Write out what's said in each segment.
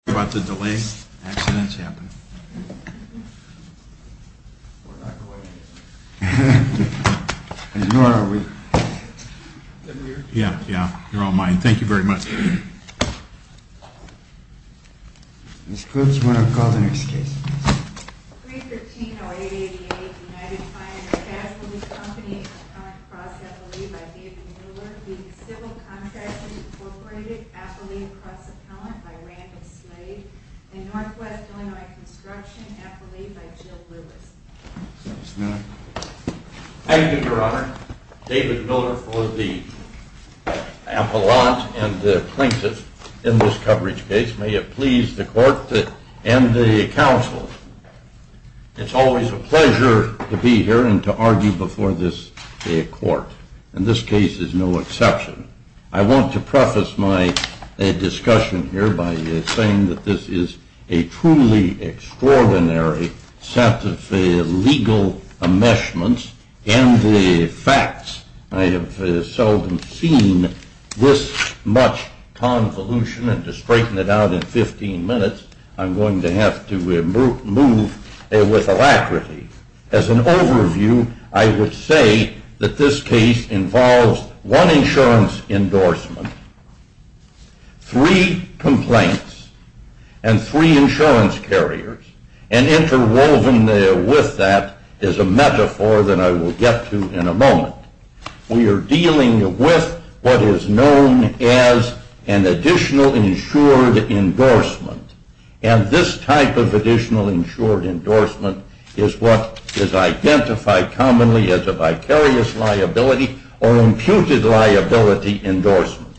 Appellee Cross Appellant by Randall Smith v. Civil Contractors, Incorporated v. Appellate Cross Appellant by Randall Smith v. Civil Contractors, Inc. and Northwest Illinois Construction Appellee by Jill Lewis. Thank you, Your Honor. David Miller for the appellant and plaintiff in this coverage case. May it please the court and the counsel, it's always a pleasure to be here and to argue before this court, and this case is no exception. I want to preface my discussion here by saying that this is a truly extraordinary set of legal enmeshments and the facts. I have seldom seen this much convolution, and to straighten it out in 15 minutes, I'm going to have to move with alacrity. As an overview, I would say that this case involves one insurance endorsement, three complaints, and three insurance carriers, and interwoven with that is a metaphor that I will get to in a moment. We are dealing with what is known as an additional insured endorsement, and this type of additional insured endorsement is what is identified commonly as a vicarious liability or imputed liability endorsement.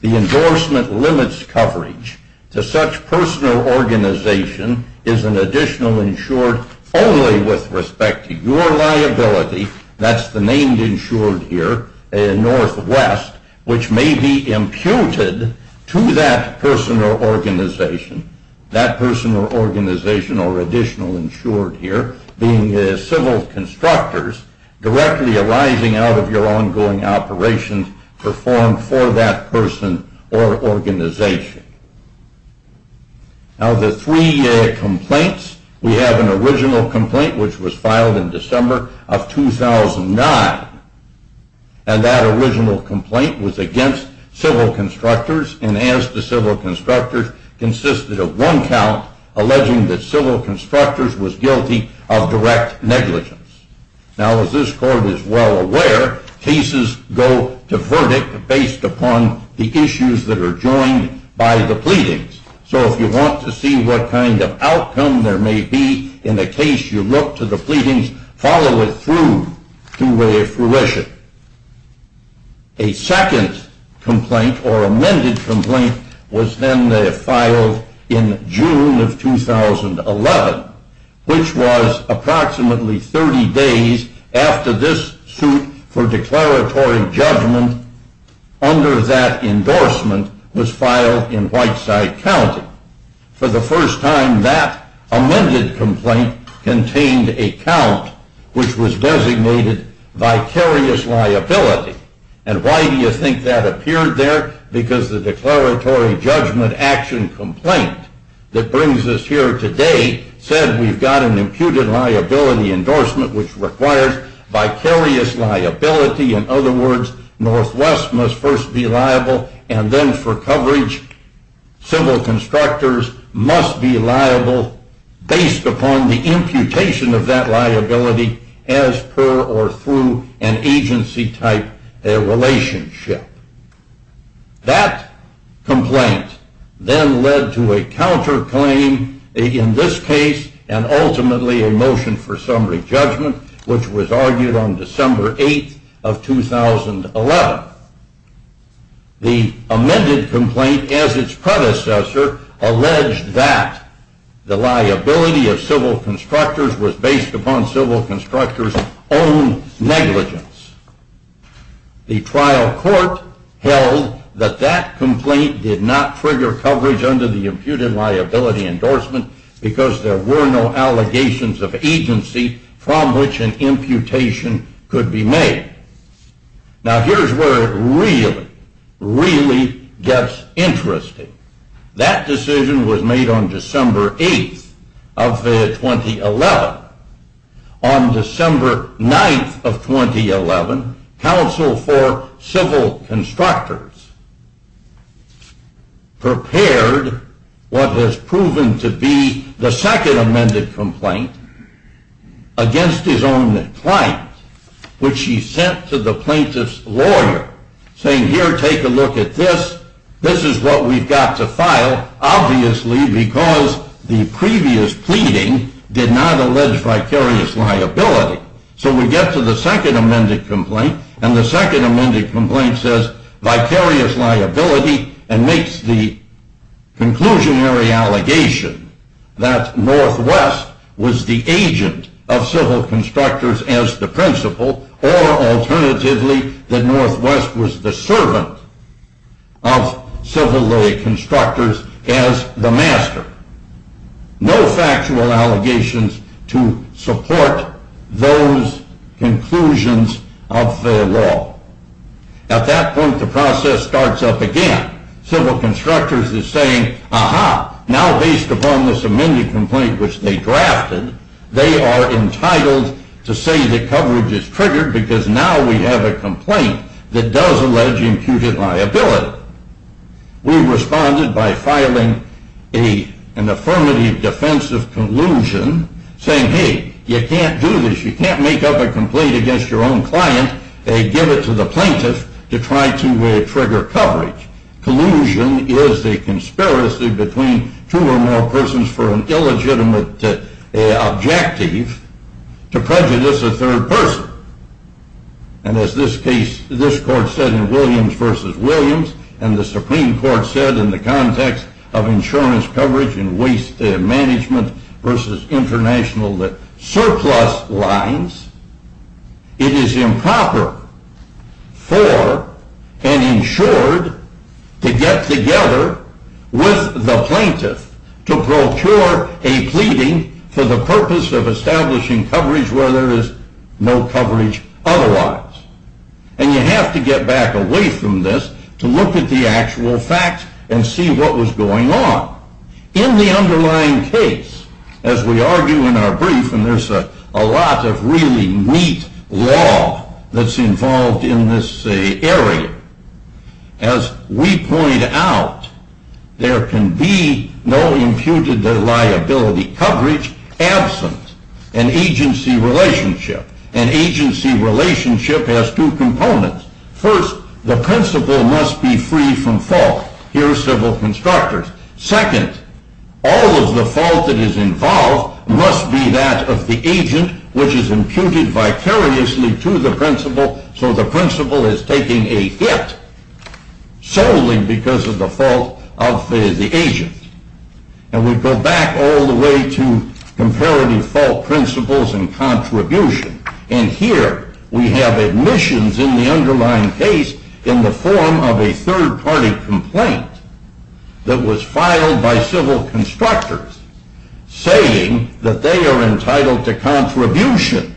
The endorsement limits coverage to such person or organization as an additional insured only with respect to your liability, that's the name insured here, Northwest, which may be imputed to that person or organization. Now the three complaints, we have an original complaint which was filed in December of 2009, and that original complaint was against civil constructors, and as to civil constructors, consisted of one count alleging that civil constructors was guilty of direct negligence. Now as this court is well aware, cases go to verdict based upon the issues that are joined by the pleadings. So if you want to see what kind of outcome there may be in a case, you look to the pleadings, follow it through to their fruition. A second complaint or amended complaint was then filed in June of 2011, which was approximately 30 days after this suit for declaratory judgment under that endorsement was filed in Whiteside County. For the first time, that amended complaint contained a count which was designated vicarious liability. And why do you think that appeared there? Because the declaratory judgment action complaint that brings us here today said we've got an imputed liability endorsement which requires vicarious liability. In other words, Northwest must first be liable, and then for coverage, civil constructors must be liable based upon the imputation of that liability as per or through an agency type relationship. That complaint then led to a counterclaim in this case, and ultimately a motion for summary judgment, which was argued on December 8th of 2011. The amended complaint, as its predecessor, alleged that the liability of civil constructors was based upon civil constructors' own negligence. The trial court held that that complaint did not trigger coverage under the imputed liability endorsement because there were no allegations of agency from which an imputation could be made. Now here's where it really, really gets interesting. That decision was made on December 8th of 2011. On December 9th of 2011, counsel for civil constructors prepared what has proven to be the second amended complaint against his own client, which he sent to the plaintiff's lawyer, saying here, take a look at this. This is what we've got to file, obviously because the previous pleading did not allege vicarious liability. So we get to the second amended complaint, and the second amended complaint says vicarious liability and makes the conclusionary allegation that Northwest was the agent of civil constructors as the principal, or alternatively, that Northwest was the servant of civil lay constructors as the master. No factual allegations to support those conclusions of the law. At that point, the process starts up again. Civil constructors are saying, aha, now based upon this amended complaint which they drafted, they are entitled to say that coverage is triggered because now we have a complaint that does allege imputed liability. We responded by filing an affirmative defensive collusion saying, hey, you can't do this. You can't make up a complaint against your own client and give it to the plaintiff to try to trigger coverage. Collusion is a conspiracy between two or more persons for an illegitimate objective to prejudice a third person. And as this case, this court said in Williams v. Williams, and the Supreme Court said in the context of insurance coverage and waste management v. international surplus lines, it is improper for an insured to get together with the plaintiff to procure a pleading for the purpose of establishing coverage where there is no coverage otherwise. And you have to get back away from this to look at the actual facts and see what was going on. In the underlying case, as we argue in our brief, and there's a lot of really neat law that's involved in this area, as we point out, there can be no imputed liability coverage absent an agency relationship. An agency relationship has two components. First, the principal must be free from fault. Here are several constructors. Second, all of the fault that is involved must be that of the agent which is imputed vicariously to the principal so the principal is taking a hit solely because of the fault of the agent. And we go back all the way to comparative fault principles and contribution. And here we have admissions in the underlying case in the form of a third party complaint that was filed by civil constructors saying that they are entitled to contribution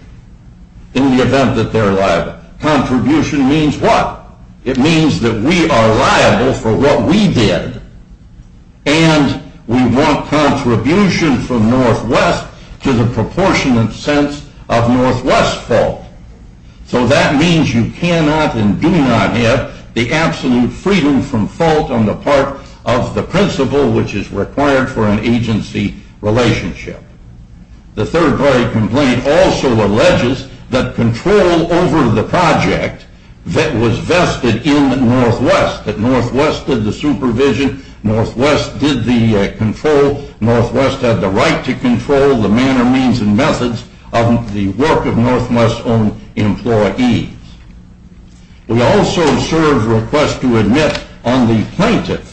in the event that they're liable. Contribution means what? It means that we are liable for what we did and we want contribution from Northwest to the proportionate sense of Northwest fault. So that means you cannot and do not have the absolute freedom from fault on the part of the principal which is required for an agency relationship. The third party complaint also alleges that control over the project that was vested in Northwest, that Northwest did the supervision, Northwest did the control, Northwest had the right to control the manner, means, and methods of the work of Northwest's own employees. We also serve requests to admit on the plaintiff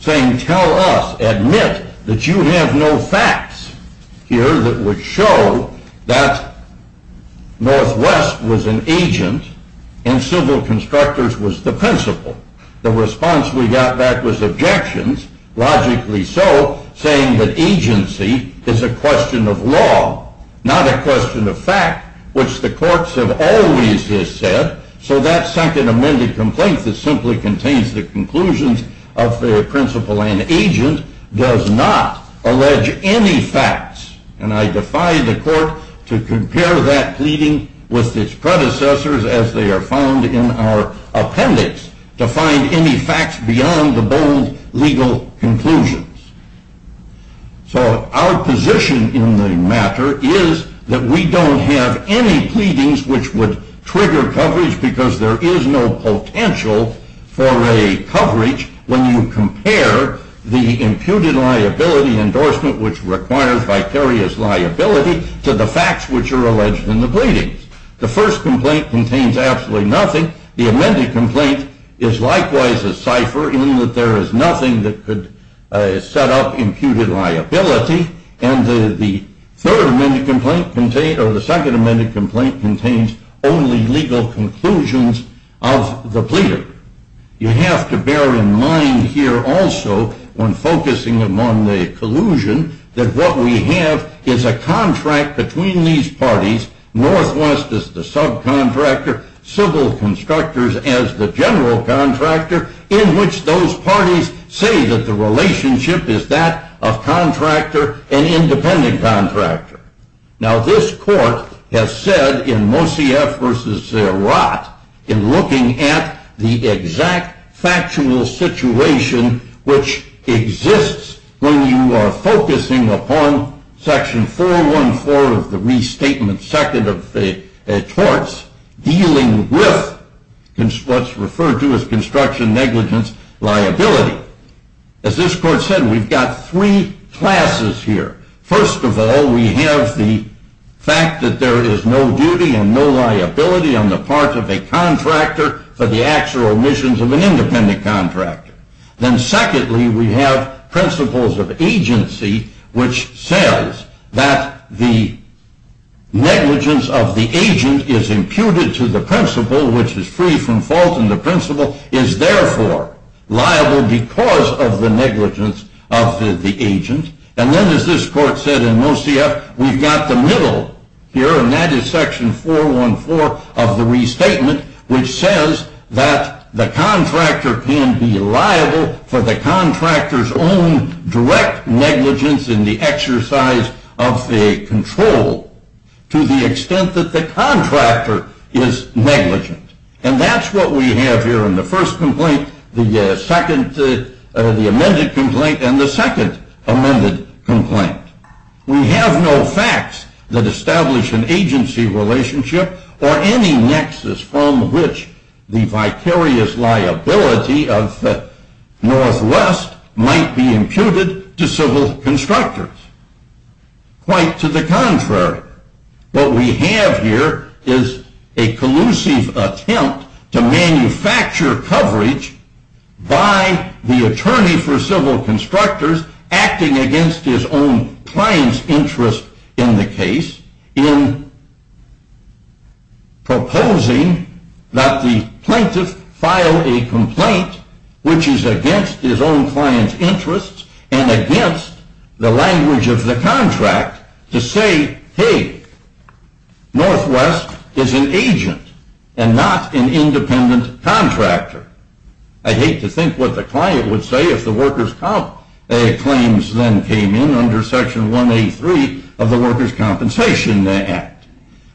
saying tell us, admit, that you have no facts here that would show that Northwest was an agent and civil constructors was the principal. The response we got back was objections, logically so, saying that agency is a question of law, not a question of fact, which the courts have always said, so that second amended complaint that simply contains the conclusions of the principal and agent does not allege any facts. And I defy the court to compare that pleading with its predecessors as they are found in our appendix to find any facts beyond the bold legal conclusions. So our position in the matter is that we don't have any pleadings which would trigger coverage because there is no potential for a coverage when you compare the imputed liability endorsement which requires vicarious liability to the facts which are alleged in the pleadings. The first complaint contains absolutely nothing, the amended complaint is likewise a cipher in that there is nothing that could set up imputed liability, and the second amended complaint contains only legal conclusions of the pleader. You have to bear in mind here also when focusing among the collusion that what we have is a contract between these parties, Northwest as the subcontractor, civil constructors as the general contractor, in which those parties say that the relationship is that of contractor and independent contractor. Now this court has said in Mossiaf v. Zerot in looking at the exact factual situation which exists when you are focusing upon section 414 of the restatement second of the torts, dealing with what's referred to as construction negligence liability. As this court said, we've got three classes here. First of all, we have the fact that there is no duty and no liability on the part of a contractor for the actual omissions of an independent contractor. Then secondly, we have principles of agency, which says that the negligence of the agent is imputed to the principle which is free from fault, and the principle is therefore liable because of the negligence of the agent. And then as this court said in Mossiaf, we've got the middle here, and that is section 414 of the restatement, which says that the contractor can be liable for the contractor's own direct negligence in the exercise of a control to the extent that the contractor is negligent. And that's what we have here in the first complaint, the amended complaint, and the second amended complaint. We have no facts that establish an agency relationship or any nexus from which the vicarious liability of Northwest might be imputed to civil constructors. Quite to the contrary, what we have here is a collusive attempt to manufacture coverage by the attorney for civil constructors acting against his own client's interest in the case in proposing that the plaintiff file a complaint which is against his own client's interests and against the language of the contract to say, hey, Northwest is an agent and not an independent contractor. I hate to think what the client would say if the workers' comp claims then came in under section 183 of the Workers' Compensation Act.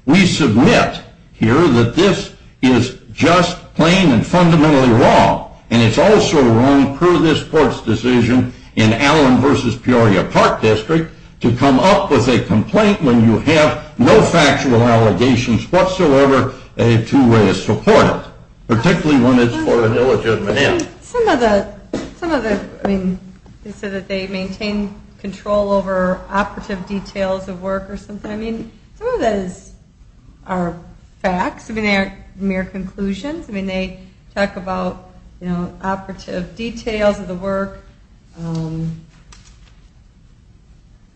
We submit here that this is just, plain, and fundamentally wrong, and it's also wrong per this Court's decision in Allen v. Peoria Park District to come up with a complaint when you have no factual allegations whatsoever to support it, particularly when it's for an illegitimate end. Some of the, I mean, they say that they maintain control over operative details of work or something. I mean, some of that is, are facts. I mean, they aren't mere conclusions. I mean, they talk about, you know, operative details of the work,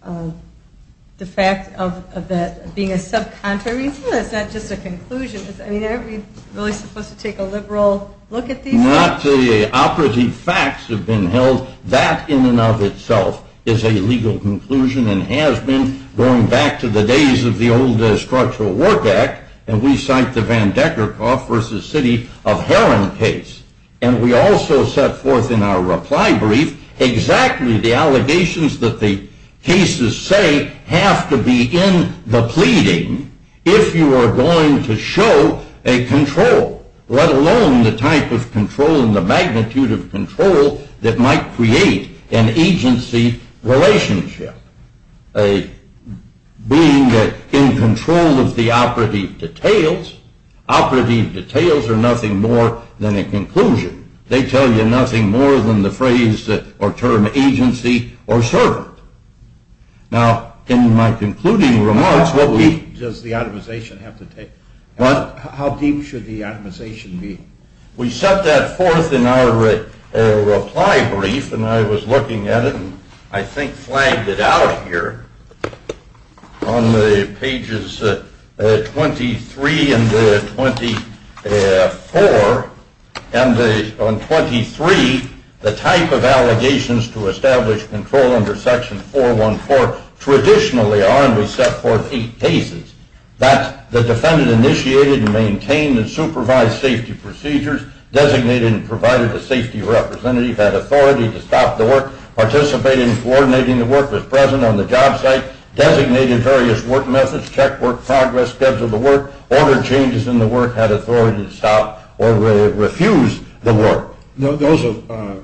the fact of that being a subcontract. I mean, some of that's not just a conclusion. I mean, aren't we really supposed to take a liberal look at these things? Not the operative facts have been held. That, in and of itself, is a legal conclusion and has been going back to the days of the old Structural Work Act. And we cite the Van Dekkerhoff v. City of Heron case, and we also set forth in our reply brief exactly the allegations that the cases say have to be in the pleading if you are going to show a control, let alone the type of control and the magnitude of control that might create an agency relationship. Being in control of the operative details, operative details are nothing more than a conclusion. They tell you nothing more than the phrase or term agency or servant. Now, in my concluding remarks, what we... How deep does the optimization have to take? What? How deep should the optimization be? We set that forth in our reply brief, and I was looking at it, and I think flagged it out here on the pages 23 and 24. And on 23, the type of allegations to establish control under Section 414 traditionally are, and we set forth eight cases. That the defendant initiated and maintained and supervised safety procedures, designated and provided a safety representative, had authority to stop the work, participated in coordinating the work that was present on the job site, designated various work methods, checked work progress, scheduled the work, ordered changes in the work, had authority to stop or refuse the work. Those are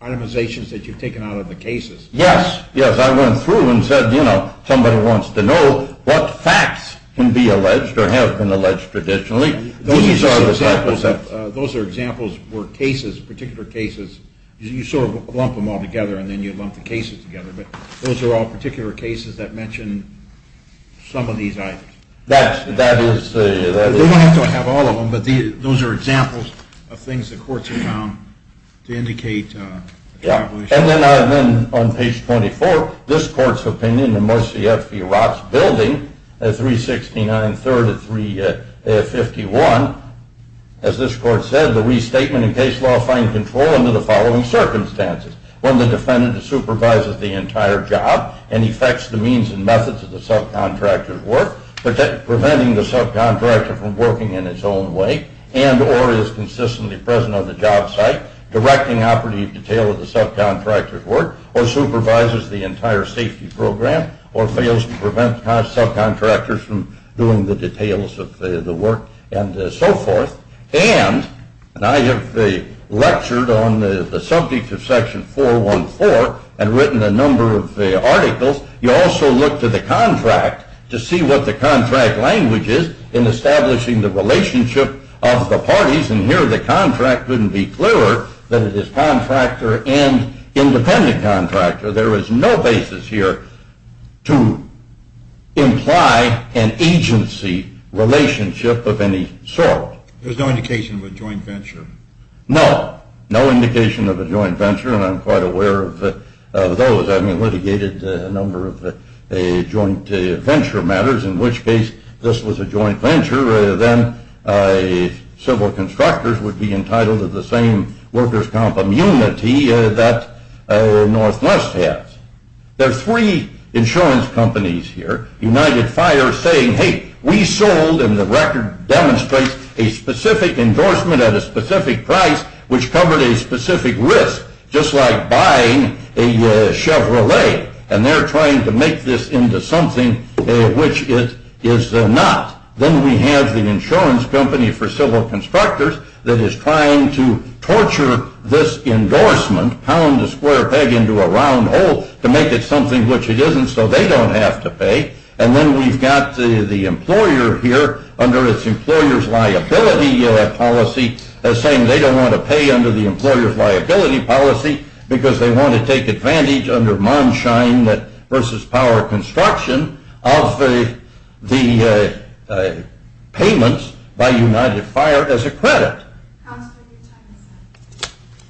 itemizations that you've taken out of the cases. Yes, yes. I went through and said, you know, somebody wants to know what facts can be alleged or have been alleged traditionally. Those are examples where cases, particular cases, you sort of lump them all together and then you lump the cases together, but those are all particular cases that mention some of these items. That is. You don't have to have all of them, but those are examples of things the courts have found to indicate. And then on page 24, this court's opinion in Morrissey F. V. Roth's building at 369 3rd and 351, as this court said, the restatement and case law find control under the following circumstances. One, the defendant supervises the entire job and effects the means and methods of the subcontractor's work, preventing the subcontractor from working in his own way and or is consistently present on the job site, directing operative detail of the subcontractor's work or supervises the entire safety program or fails to prevent subcontractors from doing the details of the work and so forth. And I have lectured on the subject of section 414 and written a number of articles. You also look to the contract to see what the contract language is in establishing the relationship of the parties, and here the contract wouldn't be clearer than it is contractor and independent contractor. There is no basis here to imply an agency relationship of any sort. There's no indication of a joint venture. No, no indication of a joint venture, and I'm quite aware of those. I mean, litigated a number of joint venture matters, in which case this was a joint venture, then civil constructors would be entitled to the same workers' comp immunity that Northwest has. There are three insurance companies here, United Fire, saying, hey, we sold, and the record demonstrates a specific endorsement at a specific price, which covered a specific risk, just like buying a Chevrolet, and they're trying to make this into something which it is not. Then we have the insurance company for civil constructors that is trying to torture this endorsement, pound the square peg into a round hole to make it something which it isn't so they don't have to pay, and then we've got the employer here under its employer's liability policy, saying they don't want to pay under the employer's liability policy because they want to take advantage under Monshine versus Power construction of the payments by United Fire as a credit.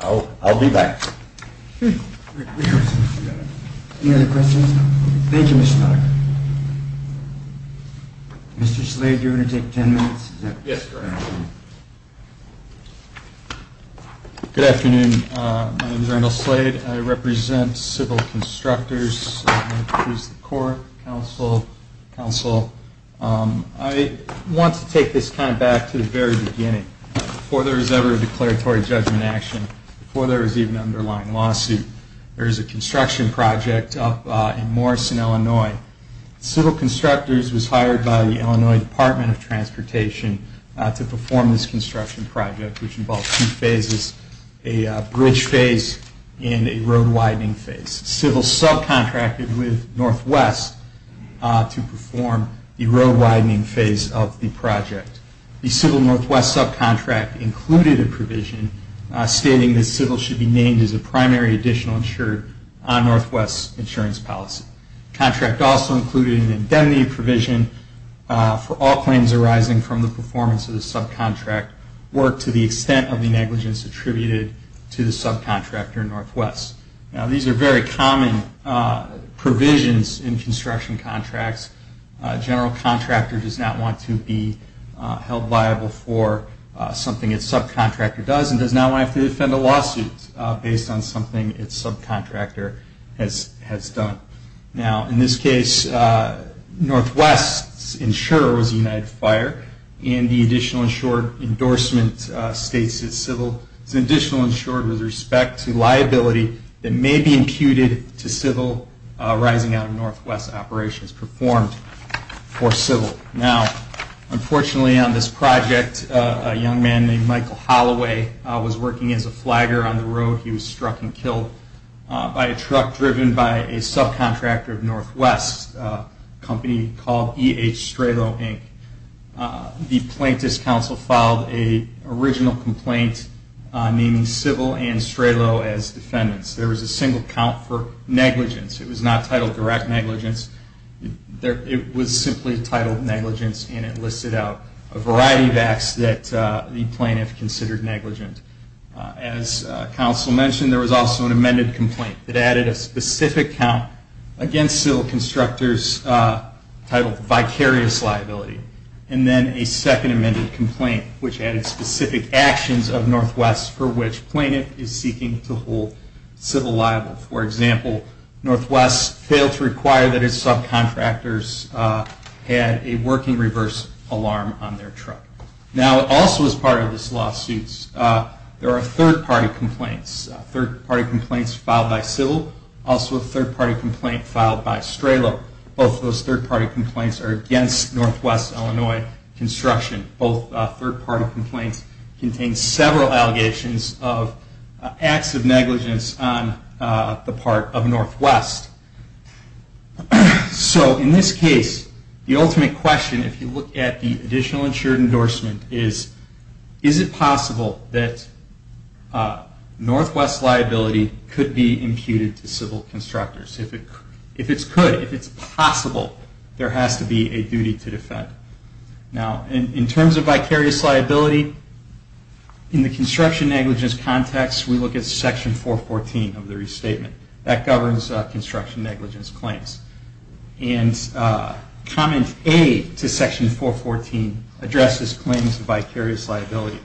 I'll be back. Any other questions? Thank you, Mr. Potter. Mr. Slade, do you want to take ten minutes? Yes, sir. Good afternoon. My name is Randall Slade. I represent Civil Constructors. Here's the court, counsel, counsel. I want to take this kind of back to the very beginning, before there was ever a declaratory judgment action, before there was even an underlying lawsuit. There was a construction project up in Morrison, Illinois. Civil Constructors was hired by the Illinois Department of Transportation to perform this construction project, which involved two phases, a bridge phase and a road-widening phase. Civil subcontracted with Northwest to perform the road-widening phase of the project. The Civil Northwest subcontract included a provision stating that Civil should be named as a primary additional insured on Northwest's insurance policy. The contract also included an indemnity provision for all claims arising from the performance of the subcontract work to the extent of the negligence attributed to the subcontractor Northwest. Now, these are very common provisions in construction contracts. A general contractor does not want to be held liable for something its subcontractor does and does not want to have to defend a lawsuit based on something its subcontractor has done. Now, in this case, Northwest's insurer was United Fire and the additional insured endorsement states that Civil is an additional insured with respect to liability that may be imputed to Civil arising out of Northwest operations performed for Civil. Now, unfortunately on this project, a young man named Michael Holloway was working as a flagger on the road. He was struck and killed by a truck driven by a subcontractor of Northwest, a company called E.H. Stralow, Inc. The plaintiff's counsel filed an original complaint naming Civil and Stralow as defendants. There was a single count for negligence. It was not titled direct negligence. It was simply titled negligence and it listed out a variety of acts that the plaintiff considered negligent. As counsel mentioned, there was also an amended complaint that added a specific count against Civil constructors titled vicarious liability. And then a second amended complaint which added specific actions of Northwest for which the plaintiff is seeking to hold Civil liable. For example, Northwest failed to require that its subcontractors had a working reverse alarm on their truck. Now, also as part of this lawsuit, there are third-party complaints. Third-party complaints filed by Civil, also a third-party complaint filed by Stralow. Both those third-party complaints are against Northwest Illinois construction. Both third-party complaints contain several allegations of acts of negligence on the part of Northwest. So in this case, the ultimate question if you look at the additional insured endorsement is, is it possible that Northwest liability could be imputed to Civil constructors? If it's could, if it's possible, there has to be a duty to defend. Now, in terms of vicarious liability, in the construction negligence context, we look at Section 414 of the restatement. That governs construction negligence claims. And Comment A to Section 414 addresses claims of vicarious liability.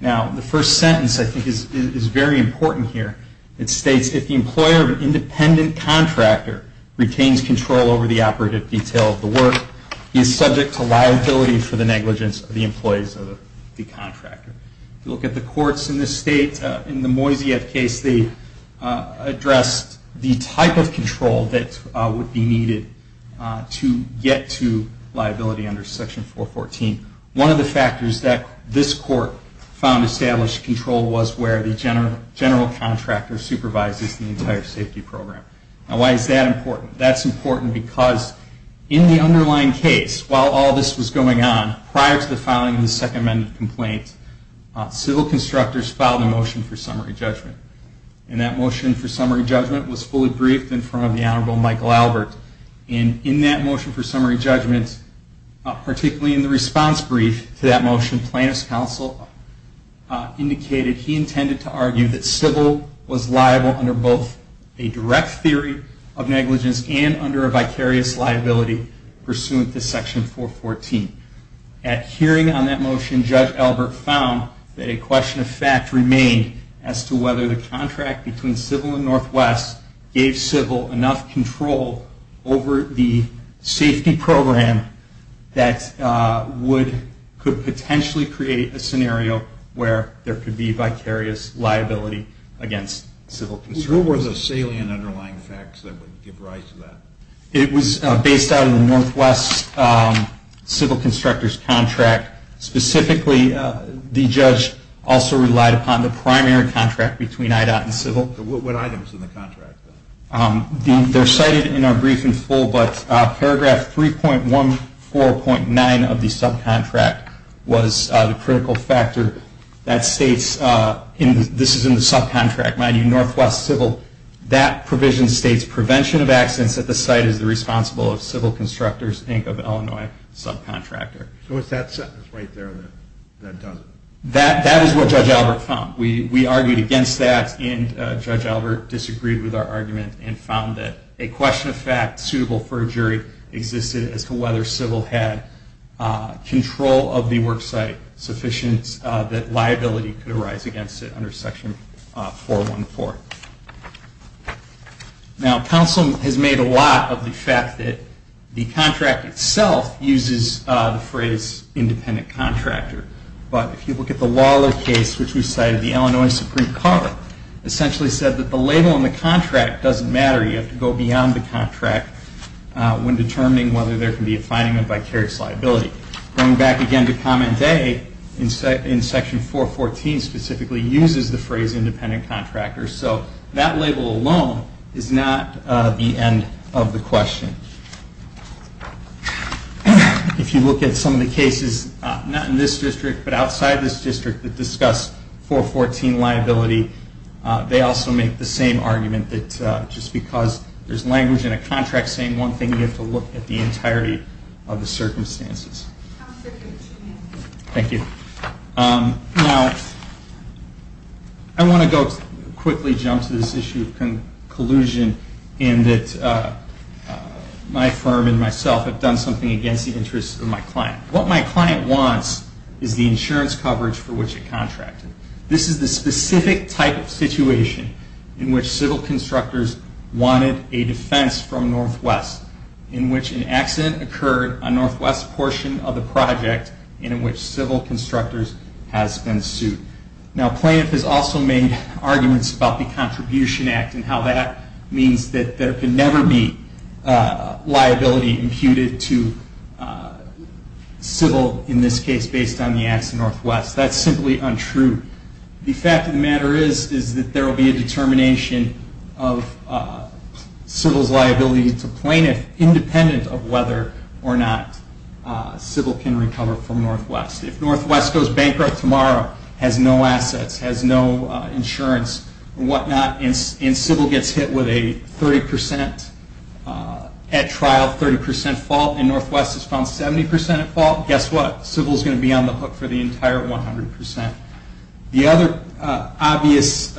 Now, the first sentence I think is very important here. It states, if the employer of an independent contractor retains control over the operative detail of the work, he is subject to liability for the negligence of the employees of the contractor. If you look at the courts in this state, in the Moiseyev case, they addressed the type of control that would be needed to get to liability under Section 414. One of the factors that this court found established control was where the general contractor supervises the entire safety program. Now, why is that important? That's important because in the underlying case, while all this was going on, prior to the filing of the Second Amendment complaint, civil constructors filed a motion for summary judgment. And that motion for summary judgment was fully briefed in front of the Honorable Michael Albert. And in that motion for summary judgment, particularly in the response brief to that motion, plaintiff's counsel indicated he intended to argue that civil was liable under both a direct theory of negligence and under a vicarious liability pursuant to Section 414. At hearing on that motion, Judge Albert found that a question of fact remained as to whether the contract between civil and Northwest gave civil enough control over the safety program that could potentially create a scenario where there could be vicarious liability against civil constructors. What were the salient underlying facts that would give rise to that? It was based on the Northwest civil constructors contract. Specifically, the judge also relied upon the primary contract between IDOT and civil. What items in the contract? They're cited in our brief in full, but paragraph 3.14.9 of the subcontract was the critical factor that states, this is in the subcontract, mind you, Northwest civil, that provision states prevention of accidents at the site is the responsible of civil constructors, Inc. of Illinois subcontractor. So it's that sentence right there that does it. That is what Judge Albert found. We argued against that, and Judge Albert disagreed with our argument and found that a question of fact suitable for a jury existed as to whether civil had control of the worksite sufficient that liability could arise against it under section 4.14. Now, counsel has made a lot of the fact that the contract itself uses the phrase independent contractor, but if you look at the Lawler case, which we cited, the Illinois Supreme Court essentially said that the label on the contract doesn't matter. You have to go beyond the contract when determining whether there can be a finding of vicarious liability. Going back again to comment A, in section 4.14 specifically uses the phrase independent contractor. So that label alone is not the end of the question. If you look at some of the cases, not in this district, but outside this district, that discuss 4.14 liability, they also make the same argument that just because there's language in a contract saying one thing, you have to look at the entirety of the circumstances. Thank you. Now, I want to quickly jump to this issue of collusion in that my firm and myself have done something against the interests of my client. What my client wants is the insurance coverage for which it contracted. This is the specific type of situation in which civil constructors wanted a defense from Northwest, in which an accident occurred on Northwest portion of the project, and in which civil constructors has been sued. Now, plaintiff has also made arguments about the Contribution Act and how that means that there can never be liability imputed to civil, in this case, based on the acts of Northwest. That's simply untrue. The fact of the matter is that there will be a determination of civil's liability to plaintiff, independent of whether or not civil can recover from Northwest. If Northwest goes bankrupt tomorrow, has no assets, has no insurance, and whatnot, and civil gets hit with a 30% at trial, 30% fault, and Northwest is found 70% at fault, guess what? We're on the hook for the entire 100%. The other obvious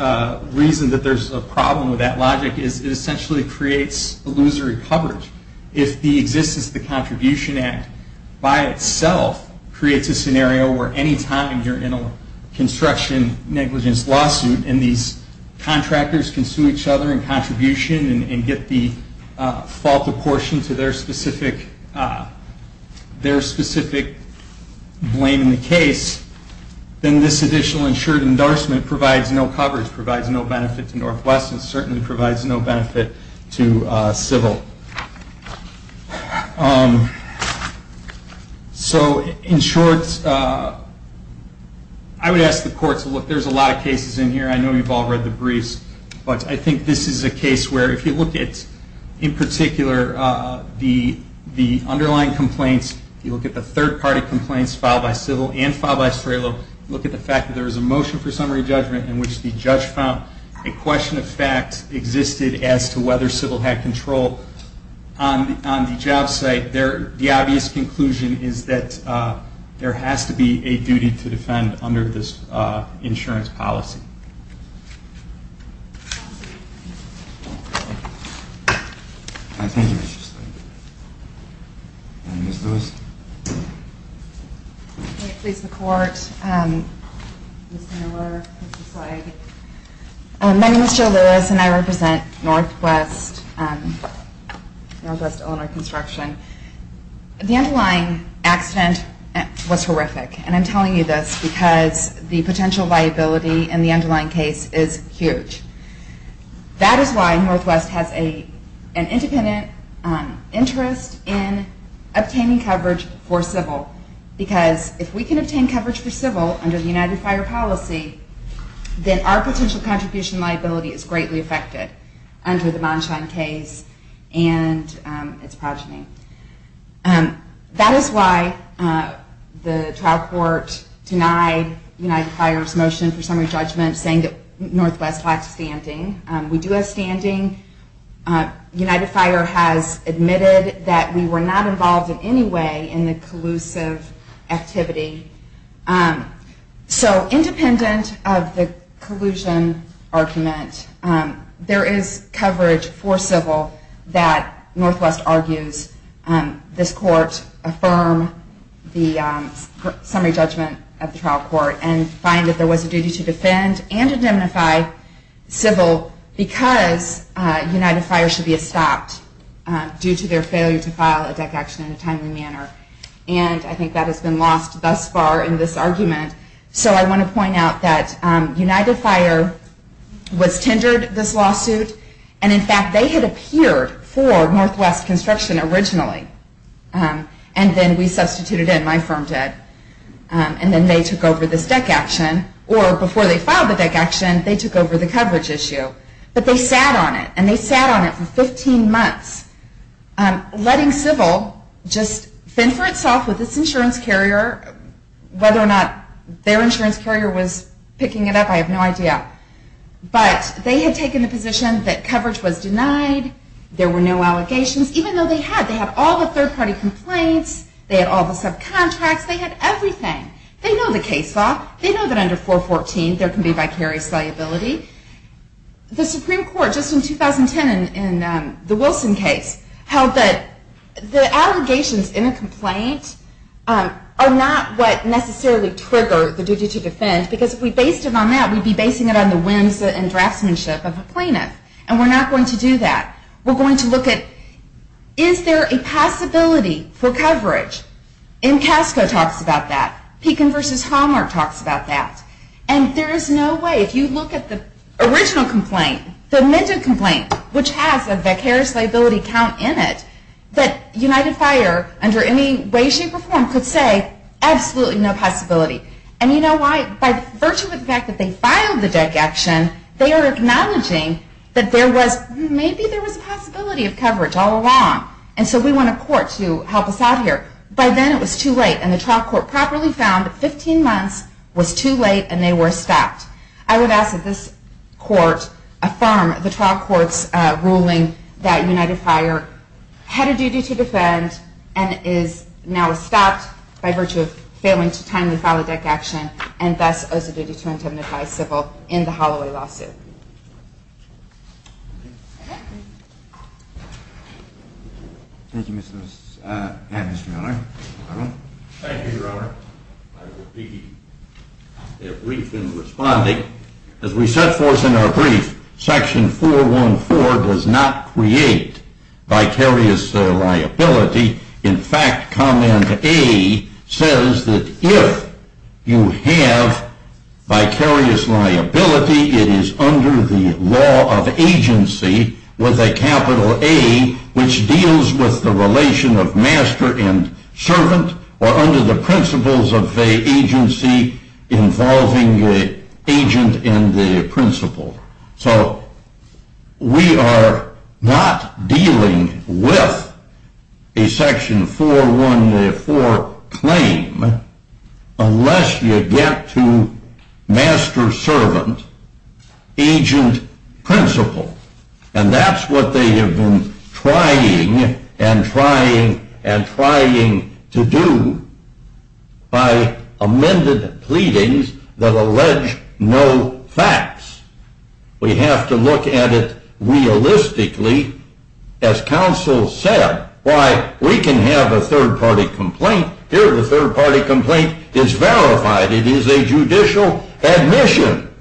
reason that there's a problem with that logic is it essentially creates illusory coverage. If the existence of the Contribution Act by itself creates a scenario where any time you're in a construction negligence lawsuit and these contractors can sue each other in contribution and get the fault apportioned to their specific blame in the case, then this additional insured endorsement provides no coverage, provides no benefit to Northwest, and certainly provides no benefit to civil. In short, I would ask the courts to look. There's a lot of cases in here. I know you've all read the briefs. But I think this is a case where if you look at, in particular, the underlying complaints, you look at the third-party complaints filed by civil and filed by STRALO, look at the fact that there was a motion for summary judgment in which the judge found a question of fact existed as to whether civil had control on the job site, the obvious conclusion is that there has to be a duty to defend under this insurance policy. Thank you, Mr. Steinberg. Ms. Lewis. May it please the Court, Mr. Miller, Mr. Steinberg. My name is Jill Lewis, and I represent Northwest Illinois Construction. The underlying accident was horrific, and I'm telling you this because the potential liability in the underlying case is huge. That is why Northwest has an independent interest in obtaining coverage for civil, because if we can obtain coverage for civil under the United Fire policy, then our potential contribution liability is greatly affected under the Monshine case and its progeny. That is why the trial court denied United Fire's motion for summary judgment, saying that Northwest lacks standing. We do have standing. United Fire has admitted that we were not involved in any way in the collusive activity. So independent of the collusion argument, there is coverage for civil that Northwest argues this court affirm the summary judgment of the trial court and find that there was a duty to defend and indemnify civil because United Fire should be stopped due to their failure to file a DEC action in a timely manner. And I think that has been lost thus far in this argument. So I want to point out that United Fire was tendered this lawsuit, and in fact they had appeared for Northwest Construction originally, and then we substituted in, my firm did. And then they took over this DEC action, or before they filed the DEC action, they took over the coverage issue. But they sat on it, and they sat on it for 15 months, letting civil just fend for itself with its insurance carrier, whether or not their insurance carrier was picking it up, I have no idea. But they had taken the position that coverage was denied, there were no allegations, even though they had. They had all the third-party complaints, they had all the subcontracts, they had everything. They know the case law. They know that under 414 there can be vicarious liability. The Supreme Court just in 2010 in the Wilson case held that the allegations in a complaint are not what necessarily trigger the duty to defend, because if we based it on that, we'd be basing it on the whims and draftsmanship of a plaintiff. And we're not going to do that. We're going to look at, is there a possibility for coverage? Encasco talks about that. Pekin v. Hallmark talks about that. And there is no way, if you look at the original complaint, the amended complaint, which has a vicarious liability count in it, that United Fire, under any way, shape, or form, could say absolutely no possibility. And you know why? By virtue of the fact that they filed the deck action, they are acknowledging that maybe there was a possibility of coverage all along. And so we want a court to help us out here. By then it was too late, and the trial court properly found that 15 months was too late, and they were stopped. I would ask that this court affirm the trial court's ruling that United Fire had a duty to defend and is now stopped by virtue of failing to timely file a deck action and thus owes a duty to indemnify civil in the Holloway lawsuit. Thank you, Mr. and Mr. Miller. Thank you, Your Honor. I will be brief in responding. As we set forth in our brief, Section 414 does not create vicarious liability. In fact, Comment A says that if you have vicarious liability, it is under the law of agency with a capital A, which deals with the relation of master and servant, or under the principles of the agency involving the agent and the principal. So we are not dealing with a Section 414 claim unless you get to master-servant, agent-principal. And that's what they have been trying and trying and trying to do by amended pleadings that allege no facts. We have to look at it realistically. As counsel said, why, we can have a third-party complaint. Here the third-party complaint is verified. It is a judicial admission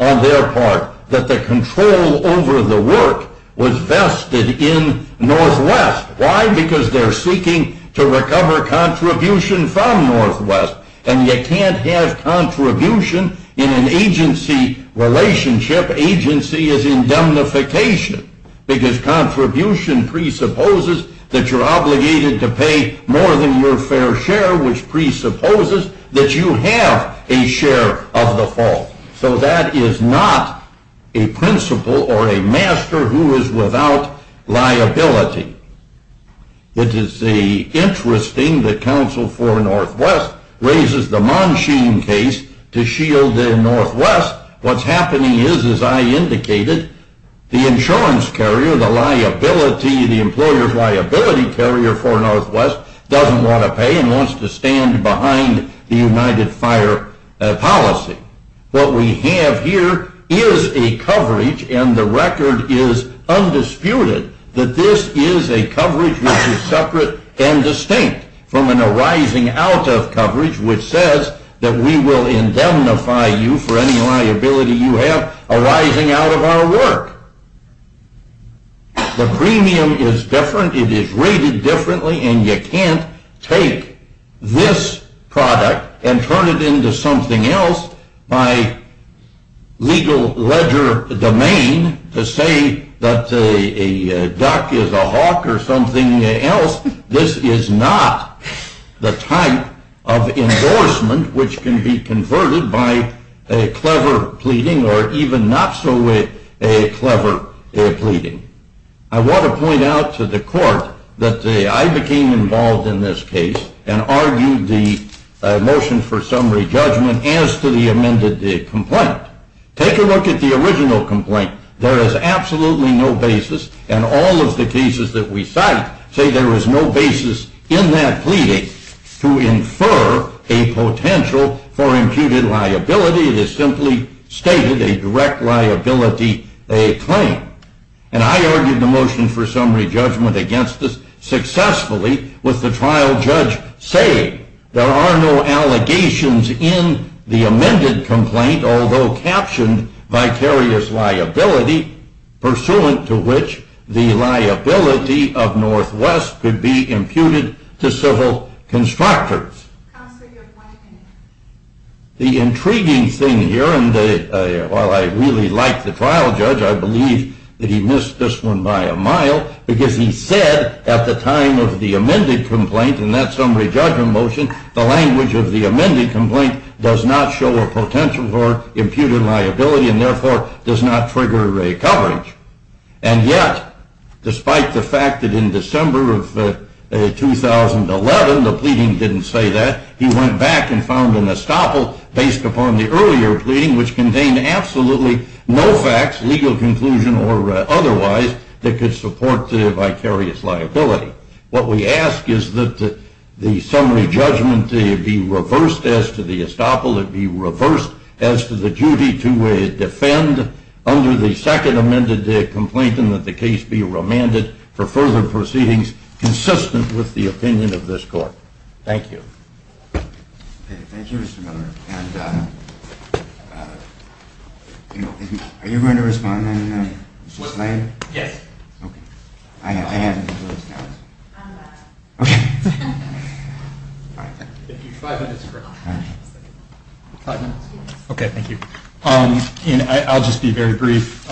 on their part that the control over the work was vested in Northwest. Why? Because they're seeking to recover contribution from Northwest. And you can't have contribution in an agency relationship. Agency is indemnification because contribution presupposes that you're obligated to pay more than your fair share, which presupposes that you have a share of the fault. So that is not a principal or a master who is without liability. It is interesting that counsel for Northwest raises the Monsheen case to shield the Northwest. What's happening is, as I indicated, the insurance carrier, the liability, the employer liability carrier for Northwest doesn't want to pay and wants to stand behind the United Fire policy. What we have here is a coverage, and the record is undisputed, that this is a coverage which is separate and distinct from an arising out of coverage, which says that we will indemnify you for any liability you have arising out of our work. The premium is different. It is rated differently, and you can't take this product and turn it into something else by legal ledger domain to say that a duck is a hawk or something else. This is not the type of endorsement which can be converted by a clever pleading or even not so clever pleading. I want to point out to the court that I became involved in this case and argued the motion for summary judgment as to the amended complaint. Take a look at the original complaint. There is absolutely no basis, and all of the cases that we cite say there is no basis in that pleading to infer a potential for imputed liability. It is simply stated a direct liability, a claim. And I argued the motion for summary judgment against this successfully with the trial judge saying there are no allegations in the amended complaint, although captioned vicarious liability, pursuant to which the liability of Northwest could be imputed to civil constructors. The intriguing thing here, and while I really like the trial judge, I believe that he missed this one by a mile, because he said at the time of the amended complaint, in that summary judgment motion, the language of the amended complaint does not show a potential for imputed liability, and therefore does not trigger a coverage. And yet, despite the fact that in December of 2011 the pleading didn't say that, he went back and found an estoppel based upon the earlier pleading, which contained absolutely no facts, legal conclusion or otherwise, that could support the vicarious liability. What we ask is that the summary judgment be reversed as to the estoppel, it be reversed as to the duty to defend under the second amended complaint, and that the case be remanded for further proceedings consistent with the opinion of this court. Thank you. Thank you, Mr. Miller. Are you going to respond then, Mr. Slater? Yes. Okay. Okay. Thank you. Five minutes. Okay, thank you. I'll just be very brief.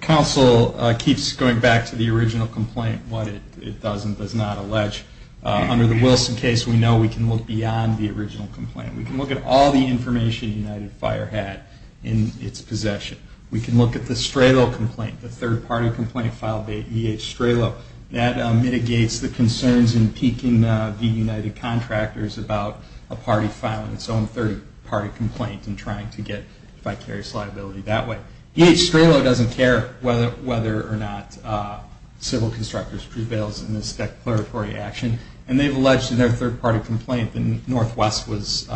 Counsel keeps going back to the original complaint, what it does and does not allege. Under the Wilson case, we know we can look beyond the original complaint. We can look at all the information United Fire had in its possession. We can look at the Stralow complaint, the third-party complaint filed by E.H. Stralow. That mitigates the concerns in piquing the United contractors about a party filing its own third-party complaint and trying to get vicarious liability that way. E.H. Stralow doesn't care whether or not civil constructors prevails in this declaratory action, and they've alleged in their third-party complaint that Northwest was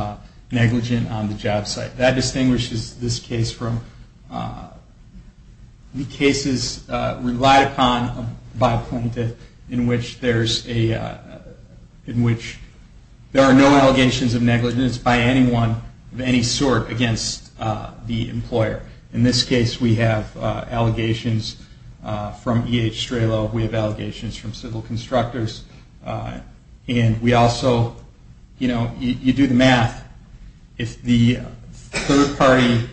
negligent on the job site. That distinguishes this case from the cases relied upon by a plaintiff in which there are no allegations of negligence by anyone of any sort against the employer. In this case, we have allegations from E.H. Stralow. We have allegations from civil constructors. And we also, you know, you do the math. If the third-party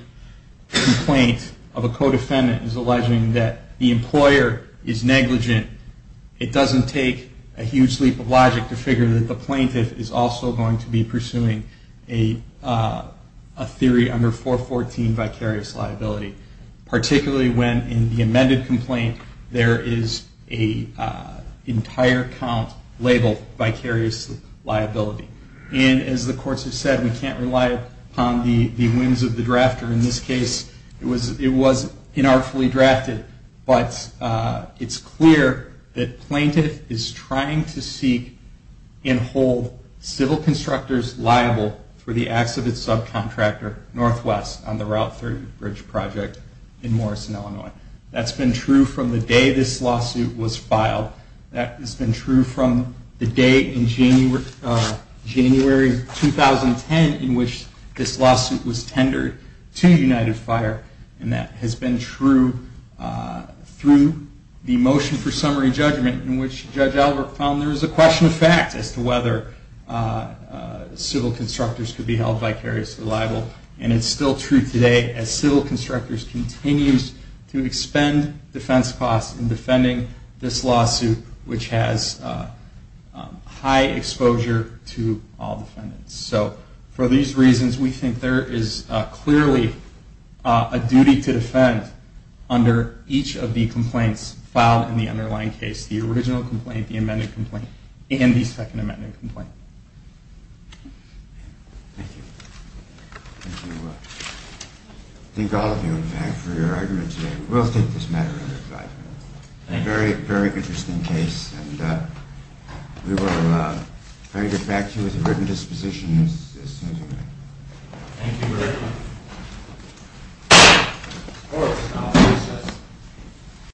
complaint of a co-defendant is alleging that the employer is negligent, it doesn't take a huge leap of logic to figure that the plaintiff is also going to be pursuing a theory under 414 vicarious liability, particularly when in the amended complaint, there is an entire count labeled vicarious liability. And as the courts have said, we can't rely upon the whims of the drafter in this case. It was inartfully drafted, but it's clear that plaintiff is trying to seek and hold civil constructors liable for the acts of its subcontractor, Northwest, on the Route 30 Bridge project in Morrison, Illinois. That's been true from the day this lawsuit was filed. That has been true from the date in January 2010 in which this lawsuit was tendered to United Fire. And that has been true through the motion for summary judgment in which Judge Albrecht found there was a question of fact as to whether civil constructors could be held vicariously liable. And it's still true today as civil constructors continues to expend defense costs in defending this lawsuit, which has high exposure to all defendants. So for these reasons, we think there is clearly a duty to defend under each of the complaints filed in the underlying case, the original complaint, the amended complaint, and the second amended complaint. Thank you. Thank you. Thank all of you, in fact, for your argument today. We will take this matter under advisory. Thank you. A very, very interesting case. And we will try to get back to you with a written disposition as soon as we can. Thank you very much. Court is now in recess.